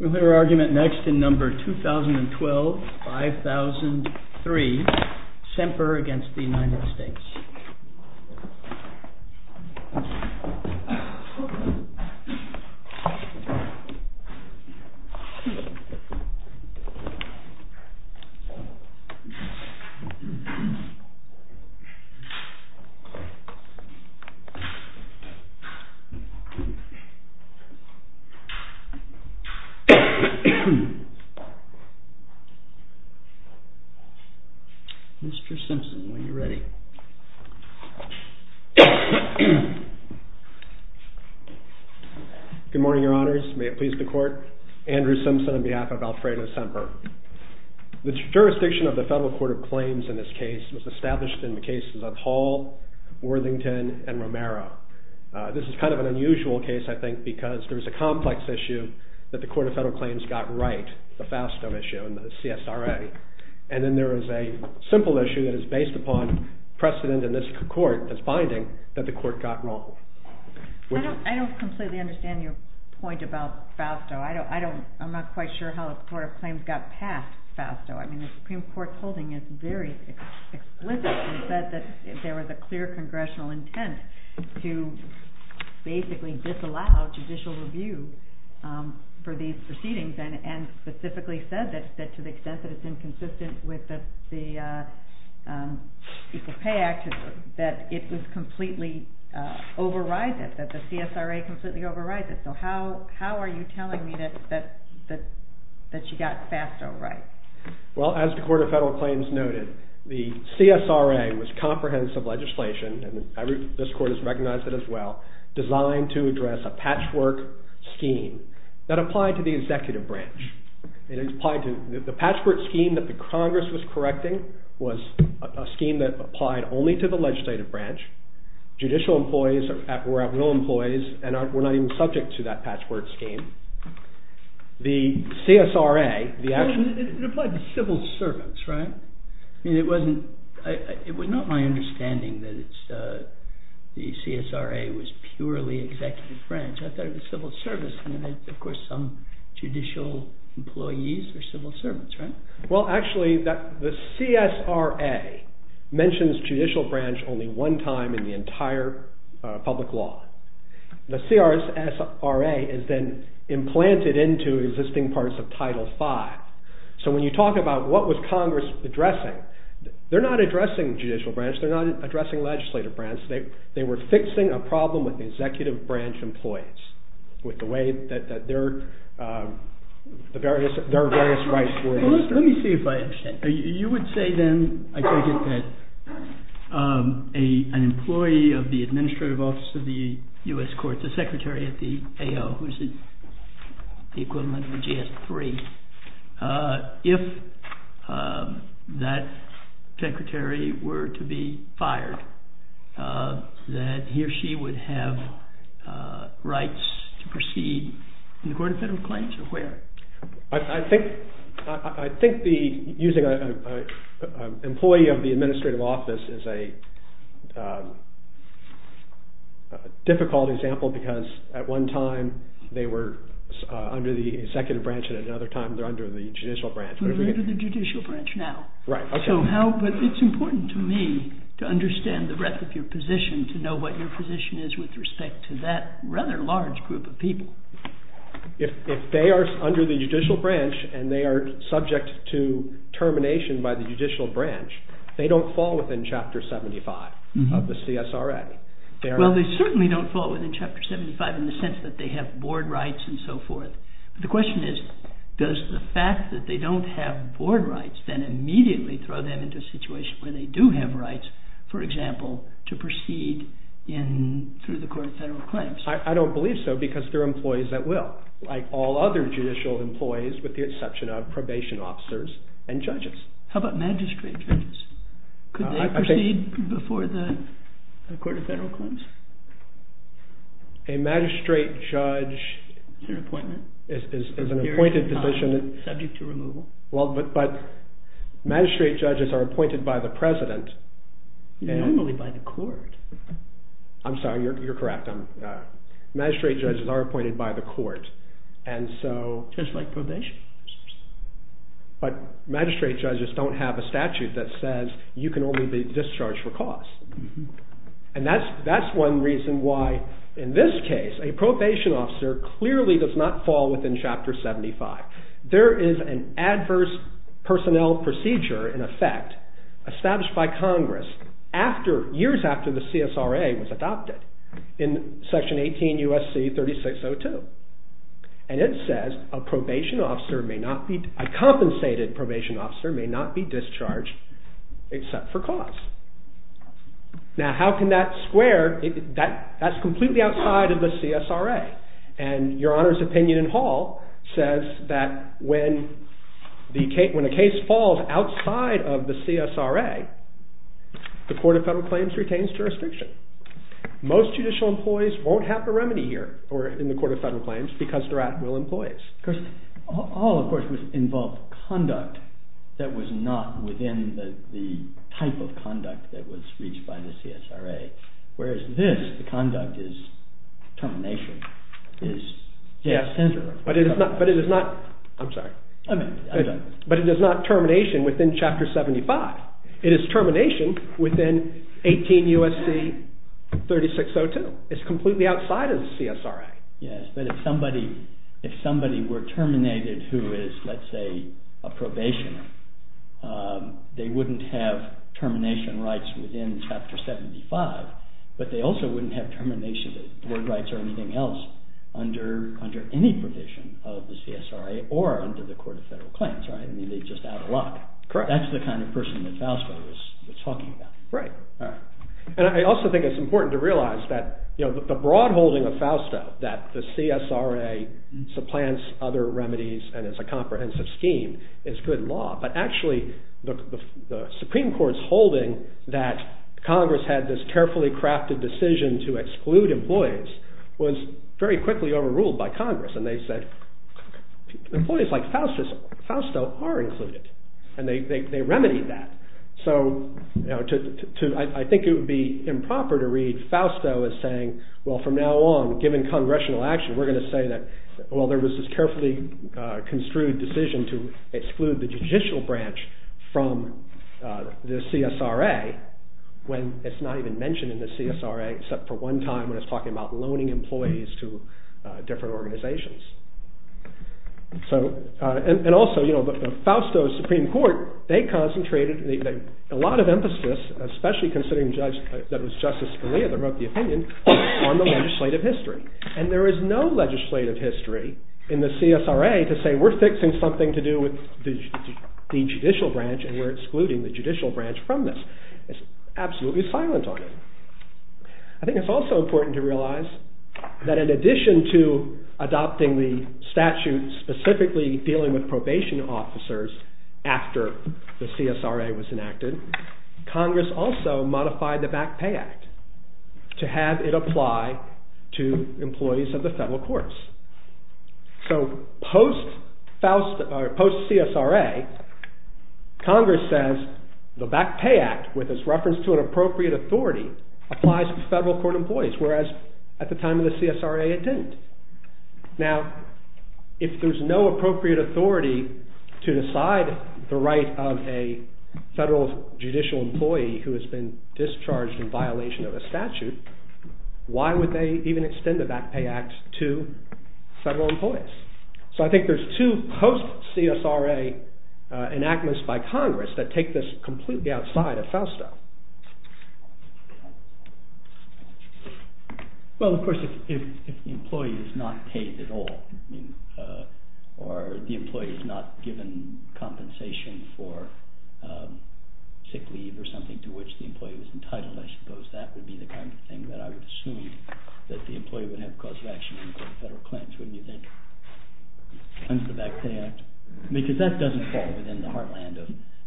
We'll hear argument next in number 2012-5003, SEMPER v. United States. Mr. Simpson, when you're ready. Good morning, Your Honors. May it please the Court, Andrew Simpson on behalf of Alfredo SEMPER. The jurisdiction of the Federal Court of Claims in this case was established in the cases of Hall, Worthington, and Romero. This is kind of an unusual case, I think, because there's a complex issue that the Court of Federal Claims got right, the FASTO issue and the CSRA. And then there is a simple issue that is based upon precedent in this court as finding that the court got wrong. I don't completely understand your point about FASTO. I'm not quite sure how the Court of Claims got past FASTO. I mean, the Supreme Court's holding is very explicit. It said that there was a clear congressional intent to basically disallow judicial review for these proceedings, and specifically said that to the extent that it's inconsistent with the Equal Pay Act, that it was completely overrided, that the CSRA completely overrided. So how are you telling me that you got FASTO right? Well, as the Court of Federal Claims noted, the CSRA was comprehensive legislation, and this court has recognized it as well, designed to address a patchwork scheme that applied to the executive branch. The patchwork scheme that the Congress was correcting was a scheme that applied only to the legislative branch. Judicial employees were at will employees and were not even subject to that patchwork scheme. The CSRA, the actual... It applied to civil servants, right? I mean, it was not my understanding that the CSRA was purely executive branch. I thought it was civil service, and then, of course, some judicial employees or civil servants, right? Well, actually, the CSRA mentions judicial branch only one time in the entire public law. The CRSRA is then implanted into existing parts of Title V. So when you talk about what was Congress addressing, they're not addressing judicial branch. They're not addressing legislative branch. They were fixing a problem with the executive branch employees with the way that their various rights were... Let me see if I understand. You would say then, I take it, that an employee of the administrative office of the U.S. that he or she would have rights to proceed in the court of federal claims, or where? I think the... Using an employee of the administrative office is a difficult example because at one time they were under the executive branch, and at another time they're under the judicial branch. We're under the judicial branch now. Right, okay. It's important to me to understand the breadth of your position, to know what your position is with respect to that rather large group of people. If they are under the judicial branch and they are subject to termination by the judicial branch, they don't fall within Chapter 75 of the CSRA. Well, they certainly don't fall within Chapter 75 in the sense that they have board rights and so forth. But the question is, does the fact that they don't have board rights then immediately throw them into a situation where they do have rights, for example, to proceed through the court of federal claims? I don't believe so because there are employees that will, like all other judicial employees with the exception of probation officers and judges. How about magistrate judges? Could they proceed before the court of federal claims? A magistrate judge... Is there an appointment? Is an appointed position... Subject to removal? Well, but magistrate judges are appointed by the president. Normally by the court. I'm sorry, you're correct. Magistrate judges are appointed by the court. And so... Just like probation. But magistrate judges don't have a statute that says you can only be discharged for cause. And that's one reason why, in this case, a probation officer clearly does not fall within Chapter 75. There is an adverse personnel procedure, in effect, established by Congress after... Years after the CSRA was adopted in Section 18 U.S.C. 3602. And it says a probation officer may not be... Now, how can that square... That's completely outside of the CSRA. And Your Honor's opinion in Hall says that when a case falls outside of the CSRA, the court of federal claims retains jurisdiction. Most judicial employees won't have a remedy here, or in the court of federal claims, because they're at-will employees. All, of course, involved conduct that was not within the type of conduct that was reached by the CSRA. Whereas this, the conduct is termination. But it is not... I'm sorry. But it is not termination within Chapter 75. It is termination within 18 U.S.C. 3602. It's completely outside of the CSRA. Yes, but if somebody were terminated who is, let's say, a probationer, they wouldn't have termination rights within Chapter 75, but they also wouldn't have termination rights or anything else under any provision of the CSRA or under the court of federal claims, right? I mean, they'd just add a lock. Correct. That's the kind of person that Fausto was talking about. Right. And I also think it's important to realize that the broad holding of Fausto, that the CSRA supplants other remedies and is a comprehensive scheme, is good law. But actually, the Supreme Court's holding that Congress had this carefully crafted decision to exclude employees was very quickly overruled by Congress. And they said, employees like Fausto are included. And they remedied that. So I think it would be improper to read Fausto as saying, well, from now on, given congressional action, we're going to say that, well, there was this carefully construed decision to exclude the judicial branch from the CSRA when it's not even mentioned in the CSRA except for one time when it's talking about loaning employees to different organizations. And also, Fausto's Supreme Court, they concentrated a lot of emphasis, especially considering that it was Justice Scalia that wrote the opinion, on the legislative history. And there is no legislative history in the CSRA to say, we're fixing something to do with the judicial branch and we're excluding the judicial branch from this. It's absolutely silent on it. I think it's also important to realize that in addition to adopting the statute specifically dealing with probation officers after the CSRA was enacted, Congress also modified the Back Pay Act to have it apply to employees of the federal courts. So post-CSRA, Congress says the Back Pay Act, with its reference to an appropriate authority, applies to federal court employees, whereas at the time of the CSRA it didn't. Now, if there's no appropriate authority to decide the right of a federal judicial employee who has been discharged in violation of a statute, why would they even extend the Back Pay Act to federal employees? So I think there's two post-CSRA enactments by Congress that take this completely outside of FOSTA. Well, of course, if the employee is not paid at all, or the employee is not given compensation for sick leave or something to which the employee was entitled, I suppose that would be the kind of thing that I would assume that the employee would have cause of action for federal claims, wouldn't you think? Cleanse the Back Pay Act? Because that doesn't fall within the heartland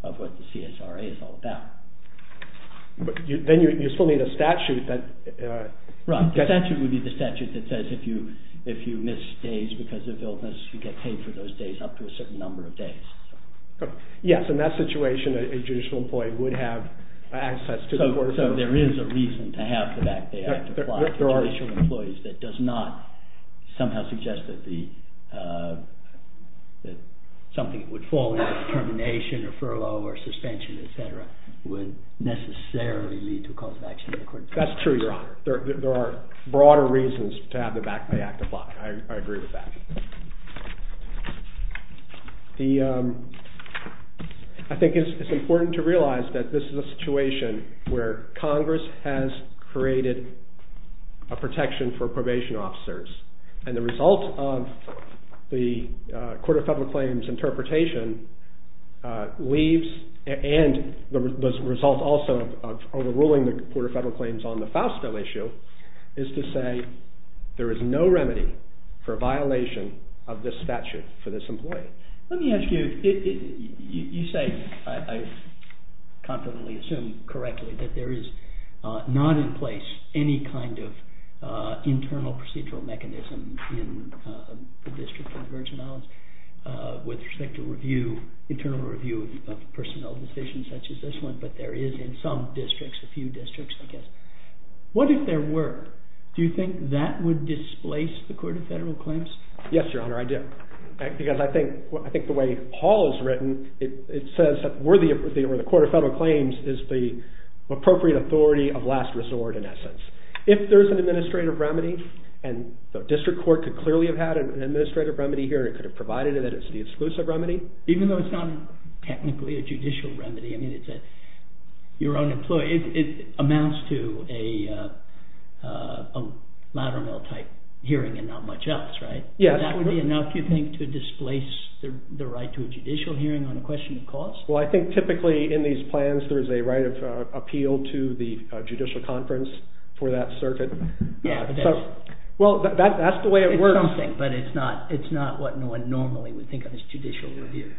of what the CSRA is all about. But then you still need a statute that... Right, the statute would be the statute that says if you miss days because of illness, you get paid for those days up to a certain number of days. Yes, in that situation, a judicial employee would have access to the court of appeals. So there is a reason to have the Back Pay Act apply to judicial employees that does not somehow suggest that something would fall into termination or furlough or suspension, et cetera, would necessarily lead to a cause of action in the court of appeals. That's true, Your Honor. There are broader reasons to have the Back Pay Act apply. I agree with that. I think it's important to realize that this is a situation where Congress has created a protection for probation officers and the result of the Court of Federal Claims interpretation leaves and the result also of overruling the Court of Federal Claims on the Foust Bill issue is to say there is no remedy for violation of this statute for this employee. Let me ask you, you say, I confidently assume correctly that there is not in place any kind of internal procedural mechanism in the District of the Virgin Islands with respect to internal review of personnel decisions such as this one but there is in some districts, a few districts, I guess. What if there were? Do you think that would displace the Court of Federal Claims? Yes, Your Honor, I do. Because I think the way Hall has written, it says that where the Court of Federal Claims is the appropriate authority of last resort in essence. If there is an administrative remedy and the District Court could clearly have had an administrative remedy here and could have provided it as the exclusive remedy. Even though it's not technically a judicial remedy, I mean, it's your own employee, it amounts to a lateral type hearing and not much else, right? That would be enough, you think, to displace the right to a judicial hearing on a question of cause? Well, I think typically in these plans there is a right of appeal to the judicial conference for that circuit. Well, that's the way it works. It's something, but it's not what one normally would think of as judicial review.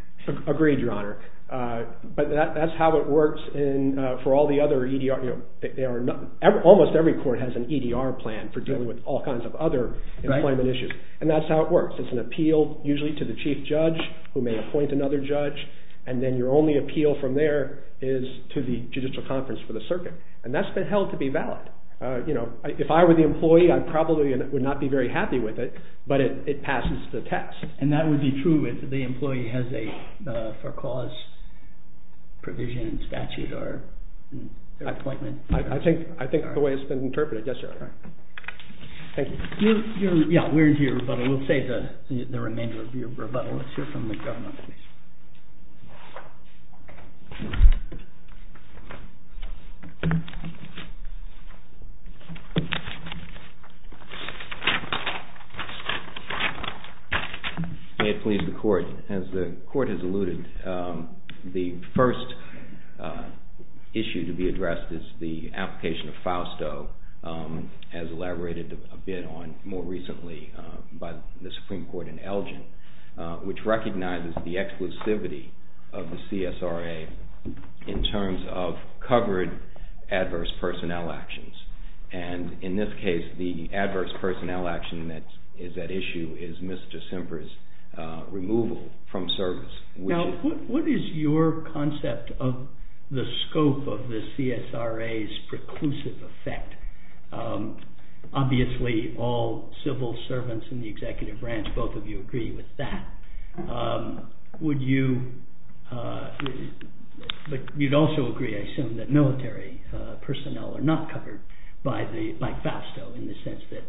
Agreed, Your Honor. But that's how it works for all the other EDR. Almost every court has an EDR plan for dealing with all kinds of other employment issues. And that's how it works. It's an appeal usually to the Chief Judge who may appoint another judge, and then your only appeal from there is to the judicial conference for the circuit. And that's been held to be valid. You know, if I were the employee, I probably would not be very happy with it, but it passes the test. And that would be true if the employee has a for-cause provision in statute or appointment? I think the way it's been interpreted. Yes, Your Honor. Thank you. Yeah, we're here, but we'll save the remainder of your rebuttal. Let's hear from the government, please. May it please the Court. As the Court has alluded, the first issue to be addressed is the application of Fausto as elaborated a bit on more recently by the Supreme Court in Elgin, which recognizes the exclusivity of the CSRA in terms of covered adverse personnel actions. And in this case, the adverse personnel action that is at issue is Ms. DeCimper's removal from service. Now, what is your concept of the scope of the CSRA's preclusive effect? Obviously, all civil servants in the executive branch, both of you agree with that. Would you... But you'd also agree, I assume, that military personnel are not covered by Fausto in the sense that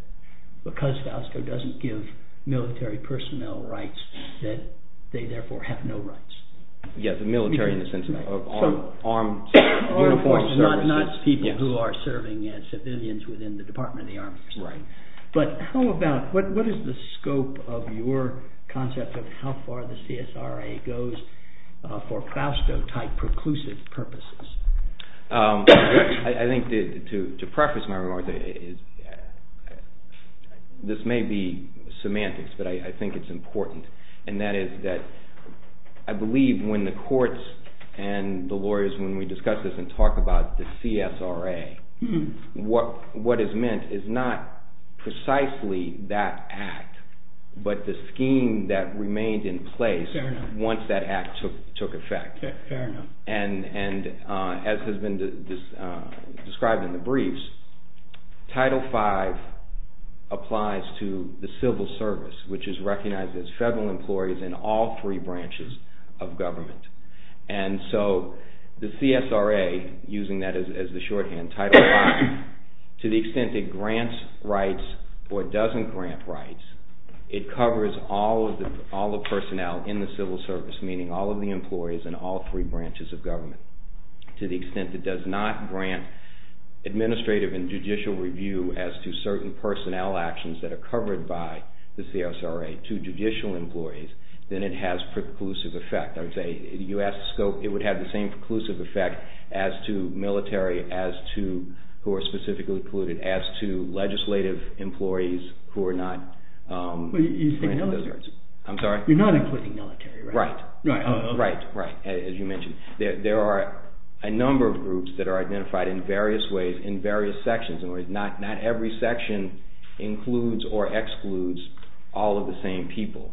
because Fausto doesn't give military personnel rights, that they therefore have no rights. Yes, the military in the sense of armed... Armed forces, not people who are serving as civilians within the Department of the Army. Right. But how about, what is the scope of your concept of how far the CSRA goes for Fausto-type preclusive purposes? I think to preface my remarks, this may be semantics, but I think it's important, and that is that I believe when the courts and the lawyers, when we discuss this and talk about the CSRA, what is meant is not precisely that act, but the scheme that remained in place once that act took effect. Fair enough. And as has been described in the briefs, Title V applies to the civil service, which is recognized as federal employees in all three branches of government. And so the CSRA, using that as the shorthand, Title V, to the extent it grants rights or doesn't grant rights, it covers all the personnel in the civil service, meaning all of the employees in all three branches of government, to the extent it does not grant administrative and judicial review as to certain personnel actions that are covered by the CSRA to judicial employees, then it has preclusive effect. I would say the U.S. scope, it would have the same preclusive effect as to military, as to who are specifically polluted, as to legislative employees who are not... You're not including military, right? Right, right, right, as you mentioned. There are a number of groups that are identified in various ways, in various sections. Not every section includes or excludes all of the same people.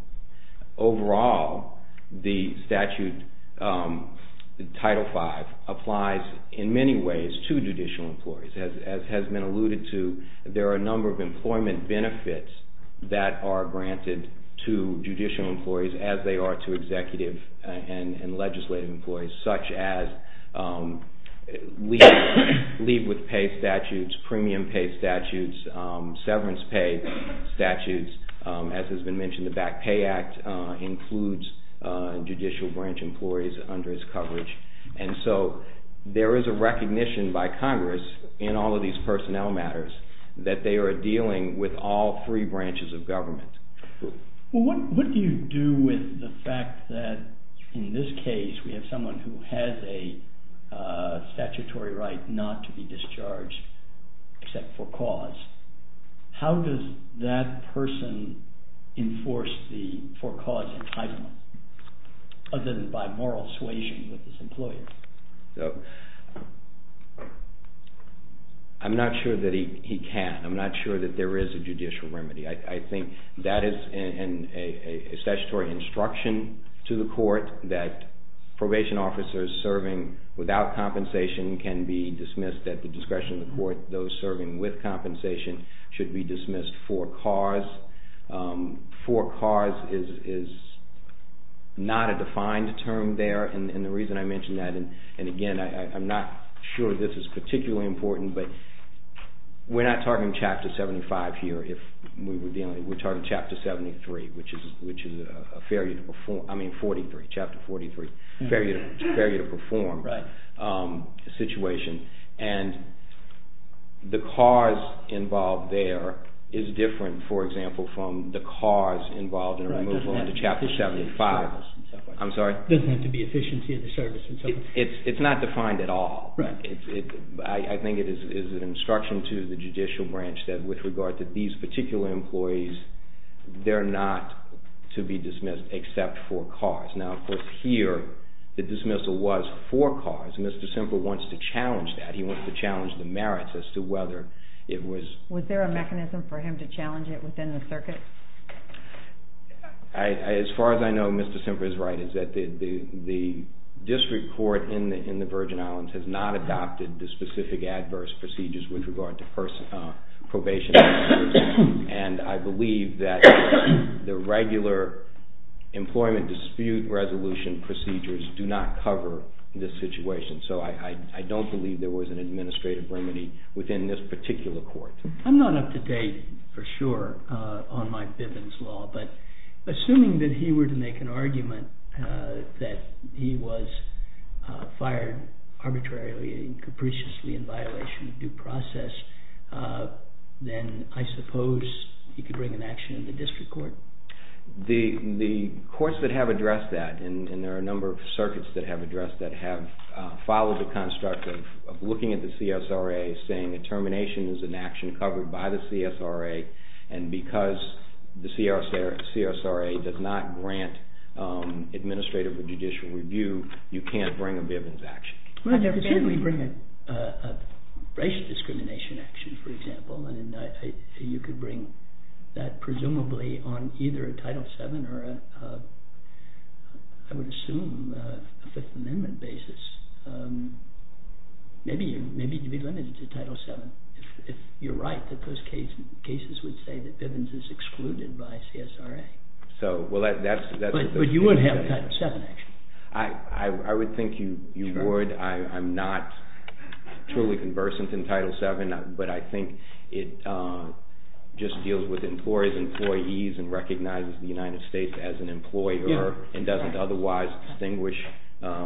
Overall, the statute, Title V, applies in many ways to judicial employees. As has been alluded to, there are a number of employment benefits that are granted to judicial employees as they are to executive and legislative employees, such as leave with pay statutes, premium pay statutes, severance pay statutes. As has been mentioned, the Back Pay Act includes judicial branch employees under its coverage. And so there is a recognition by Congress, in all of these personnel matters, that they are dealing with all three branches of government. What do you do with the fact that, in this case, we have someone who has a statutory right not to be discharged except for cause? How does that person enforce the for-cause entitlement, other than by moral suasion with his employer? I'm not sure that he can. I'm not sure that there is a judicial remedy. I think that is a statutory instruction to the court that probation officers serving without compensation can be dismissed at the discretion of the court. Those serving with compensation should be dismissed for cause. For cause is not a defined term there. And the reason I mention that, and again, I'm not sure this is particularly important, but we're not talking Chapter 75 here. We're talking Chapter 73, which is a fair unit. I mean Chapter 43. It's a fair unit to perform situation. And the cause involved there is different, for example, from the cause involved in a removal into Chapter 75. I'm sorry? It doesn't have to be efficiency of the service. It's not defined at all. I think it is an instruction to the judicial branch that with regard to these particular employees, they're not to be dismissed except for cause. Now, of course, here the dismissal was for cause. Mr. Semple wants to challenge that. He wants to challenge the merits as to whether it was... Was there a mechanism for him to challenge it within the circuit? As far as I know, Mr. Semple is right, is that the district court in the Virgin Islands has not adopted the specific adverse procedures with regard to probation. And I believe that the regular employment dispute resolution procedures do not cover this situation. So I don't believe there was an administrative remedy within this particular court. I'm not up to date for sure on Mike Biven's law, but assuming that he were to make an argument that he was fired arbitrarily and capriciously in violation of due process, then I suppose he could bring an action to the district court. The courts that have addressed that, and there are a number of circuits that have addressed that, have followed the construct of looking at the CSRA saying a termination is an action covered by the CSRA, and because the CSRA does not grant administrative or judicial review, you can't bring a Biven's action. You could bring a racial discrimination action, for example, and you could bring that presumably on either a Title VII or I would assume a Fifth Amendment basis. Maybe you'd be limited to Title VII if you're right that those cases would say that Biven's is excluded by CSRA. But you would have a Title VII action. I would think you would. I'm not truly conversant in Title VII, but I think it just deals with employees and recognizes the United States as an employer and doesn't otherwise distinguish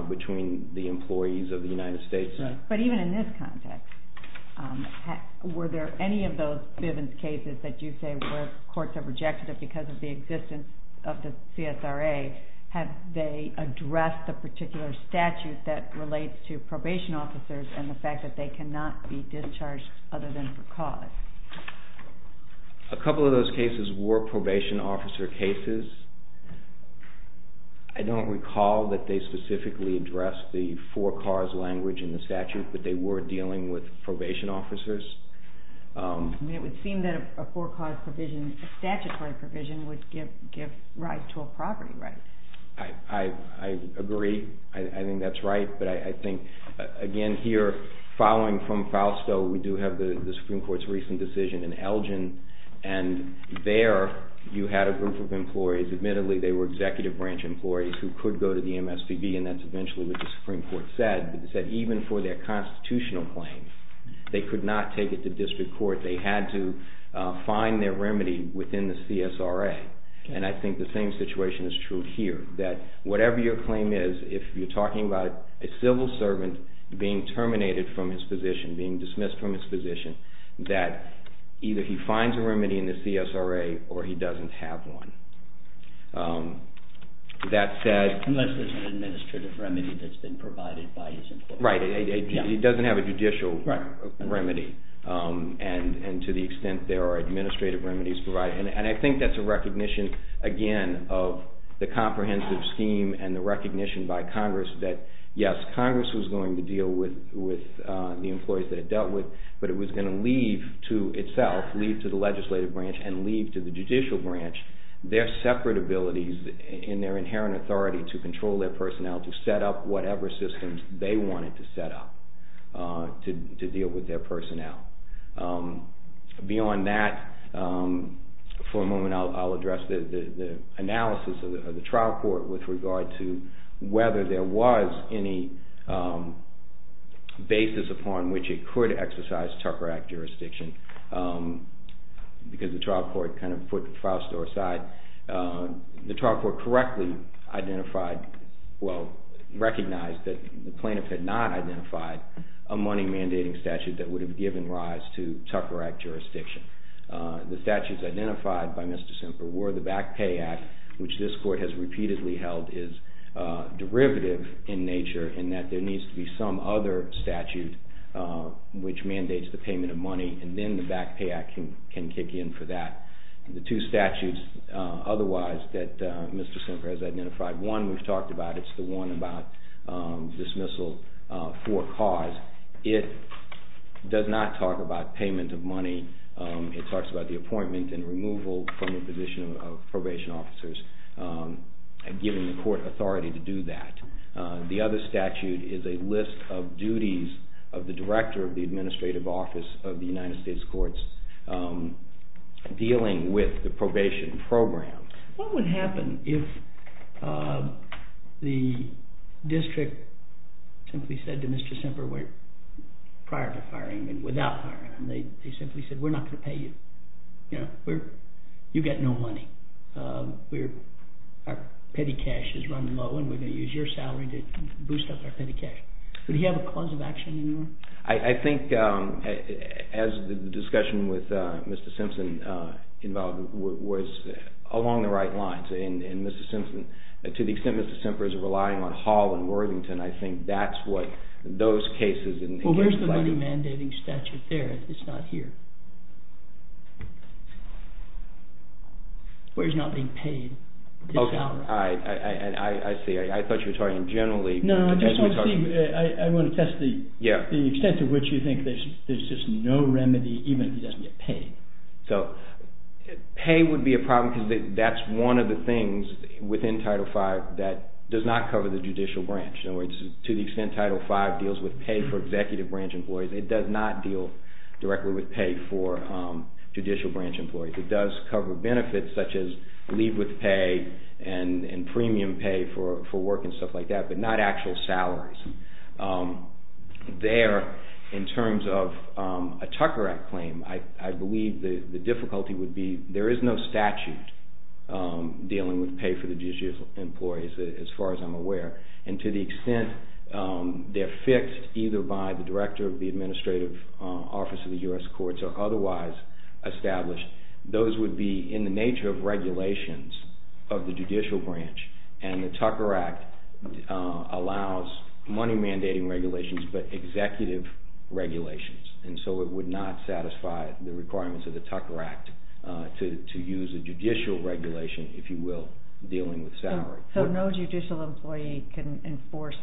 between the employees of the United States. But even in this context, were there any of those Biven's cases that you say where courts have rejected it because of the existence of the CSRA, have they addressed the particular statute that relates to probation officers and the fact that they cannot be discharged other than for cause? A couple of those cases were probation officer cases. I don't recall that they specifically addressed the for-cause language in the statute, but they were dealing with probation officers. It would seem that a for-cause provision, a statutory provision, would give right to a property right. I agree. I think that's right. But I think, again, here, following from Fausto, we do have the Supreme Court's recent decision in Elgin, and there you had a group of employees. Admittedly, they were executive branch employees who could go to the MSPB, and that's eventually what the Supreme Court said. It said even for their constitutional claims, they could not take it to district court. They had to find their remedy within the CSRA. And I think the same situation is true here, that whatever your claim is, if you're talking about a civil servant being terminated from his position, being dismissed from his position, that either he finds a remedy in the CSRA or he doesn't have one. Unless there's an administrative remedy that's been provided by his employer. Right. He doesn't have a judicial remedy. And to the extent there are administrative remedies provided. And I think that's a recognition, again, of the comprehensive scheme and the recognition by Congress that, yes, Congress was going to deal with the employees that it dealt with, but it was going to leave to itself, leave to the legislative branch and leave to the judicial branch their separate abilities and their inherent authority to control their personnel, to set up whatever systems they wanted to set up to deal with their personnel. Beyond that, for a moment, I'll address the analysis of the trial court with regard to whether there was any basis upon which it could exercise Tucker Act jurisdiction. Because the trial court kind of put the file store aside. The trial court correctly identified, well, recognized that the plaintiff had not identified a money mandating statute that would have given rise to Tucker Act jurisdiction. The statutes identified by Mr. Semper were the Back Pay Act, which this court has repeatedly held is derivative in nature in that there needs to be some other statute which mandates the payment of money and then the Back Pay Act can kick in for that. The two statutes otherwise that Mr. Semper has identified, one we've talked about, it's the one about dismissal for cause. It does not talk about payment of money. It talks about the appointment and removal from the position of probation officers and giving the court authority to do that. The other statute is a list of duties of the director of the administrative office of the United States courts dealing with the probation program. What would happen if the district simply said to Mr. Semper prior to firing him, without firing him, they simply said, we're not going to pay you. You've got no money. Our petty cash is run low and we're going to use your salary to boost up our petty cash. Would he have a cause of action anymore? I think as the discussion with Mr. Simpson involved was along the right lines and Mr. Simpson, to the extent Mr. Semper is relying on Hall and Worthington, I think that's what those cases... Where's the money mandating statute there? It's not here. Where he's not being paid his salary. I see. I thought you were talking generally... No, I just want to test the extent to which you think there's just no remedy even if he doesn't get paid. Pay would be a problem because that's one of the things within Title V that does not cover the judicial branch. To the extent Title V deals with pay for executive branch employees, it does not deal directly with pay for judicial branch employees. It does cover benefits such as leave with pay and premium pay for work and stuff like that, but not actual salaries. There, in terms of a Tucker Act claim, I believe the difficulty would be there is no statute dealing with pay for the judicial employees, as far as I'm aware, and to the extent they're fixed either by the director of the administrative office of the U.S. courts or otherwise established, those would be in the nature of regulations of the judicial branch, and the Tucker Act allows money mandating regulations but executive regulations, and so it would not satisfy the requirements of the Tucker Act to use a judicial regulation, if you will, dealing with salary. So no judicial employee can enforce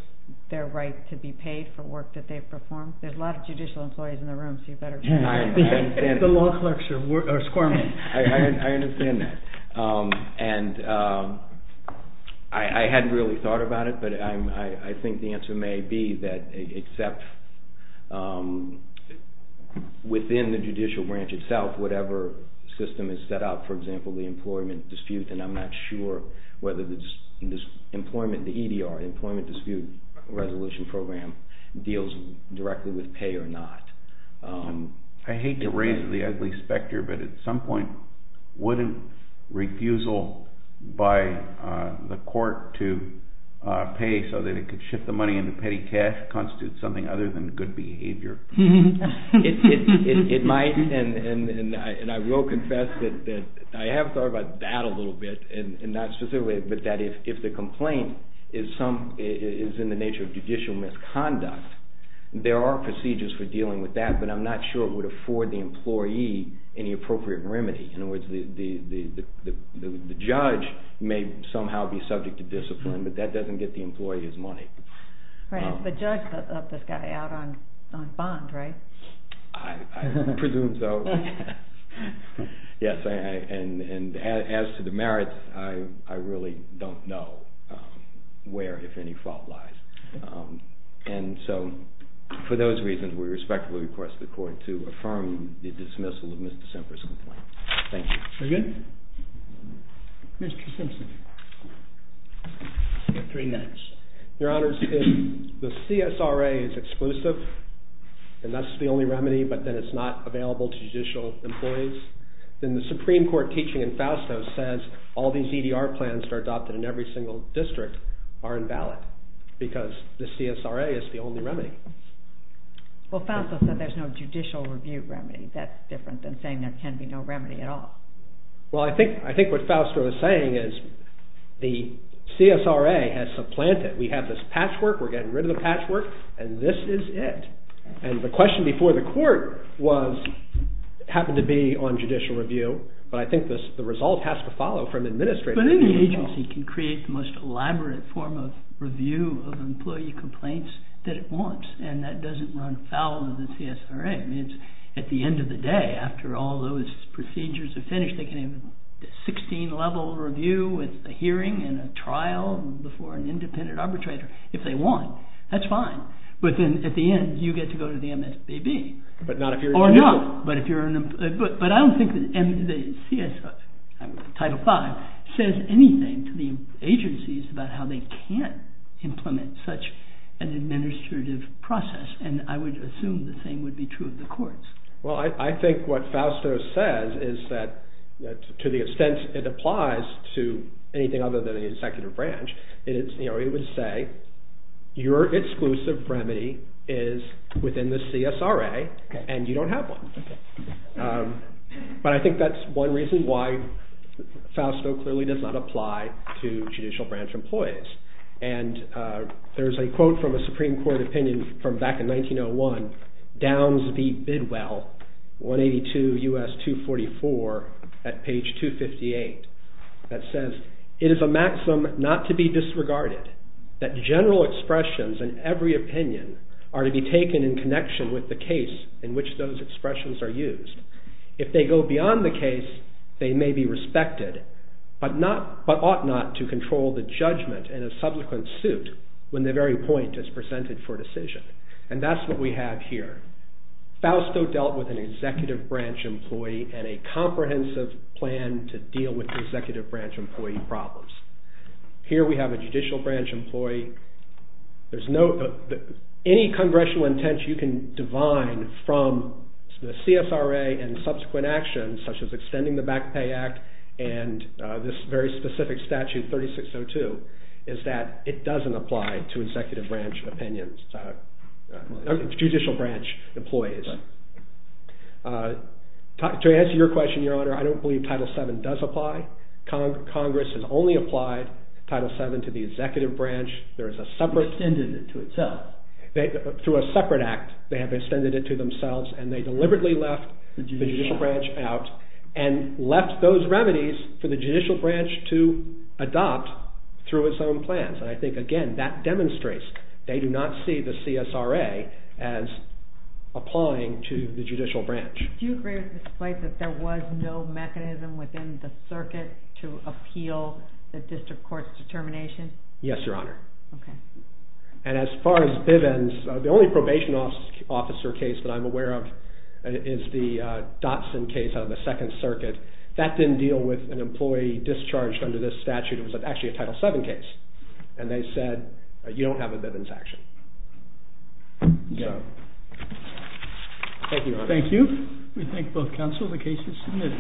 their right to be paid for work that they've performed? There's a lot of judicial employees in the room, so you better... The law clerks are squirming. I understand that. I hadn't really thought about it, but I think the answer may be that except within the judicial branch itself, whatever system is set up, for example, the employment dispute, and I'm not sure whether the employment, the EDR, the Employment Dispute Resolution Program, deals directly with pay or not. I hate to raise the ugly specter, but at some point, wouldn't refusal by the court to pay so that it could shift the money into petty cash constitute something other than good behavior? It might, and I will confess that I have thought about that a little bit, and not specifically, but that if the complaint is in the nature of judicial misconduct, there are procedures for dealing with that, but I'm not sure it would afford the employee any appropriate remedy. In other words, the judge may somehow be subject to discipline, but that doesn't get the employee his money. Right, but the judge left this guy out on bond, right? I presume so. Yes, and as to the merits, I really don't know where, if any, fault lies. And so, for those reasons, we respectfully request the court to affirm the dismissal of Mr. Simpson's complaint. Thank you. Very good. Mr. Simpson. You have three minutes. Your Honors, if the CSRA is exclusive, and that's the only remedy, but then it's not available to judicial employees, then the Supreme Court teaching in Fausto says all these EDR plans that are adopted in every single district are invalid, because the CSRA is the only remedy. Well, Fausto said there's no judicial review remedy. That's different than saying there can be no remedy at all. Well, I think what Fausto is saying is the CSRA has supplanted. We have this patchwork. We're getting rid of the patchwork, and this is it. And the question before the court happened to be on judicial review, but I think the result has to follow from administration. But any agency can create the most elaborate form of review of employee complaints that it wants, and that doesn't run foul of the CSRA. I mean, at the end of the day, after all those procedures are finished, they can have a 16-level review with a hearing and a trial before an independent arbitrator if they want. That's fine. But then at the end, you get to go to the MSBB. But not if you're an employee. Or not. But I don't think the CSRA, Title V, says anything to the agencies about how they can't implement such an administrative process, and I would assume the same would be true of the courts. Well, I think what Fausto says is that to the extent it applies to anything other than the executive branch, it would say your exclusive remedy is within the CSRA, and you don't have one. But I think that's one reason why Fausto clearly does not apply to judicial branch employees. There's a quote from a Supreme Court opinion from back in 1901, Downs v. Bidwell, 182 U.S. 244, at page 258, that says, It is a maxim not to be disregarded, that general expressions in every opinion are to be taken in connection with the case in which those expressions are used. If they go beyond the case, they may be respected, but ought not to control the judgment in a subsequent suit when the very point is presented for decision. And that's what we have here. Fausto dealt with an executive branch employee and a comprehensive plan to deal with the executive branch employee problems. Here we have a judicial branch employee. There's no, any congressional intent you can divine from the CSRA and subsequent actions, such as extending the Back Pay Act and this very specific statute, 3602, is that it doesn't apply to executive branch opinions, judicial branch employees. To answer your question, Your Honor, I don't believe Title VII does apply. Congress has only applied Title VII to the executive branch. There is a separate... Extended it to itself. Through a separate act, they have extended it to themselves and they deliberately left the judicial branch out and left those remedies for the judicial branch to adopt through its own plans. And I think, again, that demonstrates they do not see the CSRA as applying to the judicial branch. Do you agree with this point that there was no mechanism within the circuit to appeal the district court's determination? Yes, Your Honor. Okay. And as far as Bivens, the only probation officer case that I'm aware of is the Dotson case out of the Second Circuit. That didn't deal with an employee discharged under this statute. It was actually a Title VII case, and they said you don't have a Bivens action. So... Thank you, Your Honor. Thank you. We thank both counsel. The case is submitted.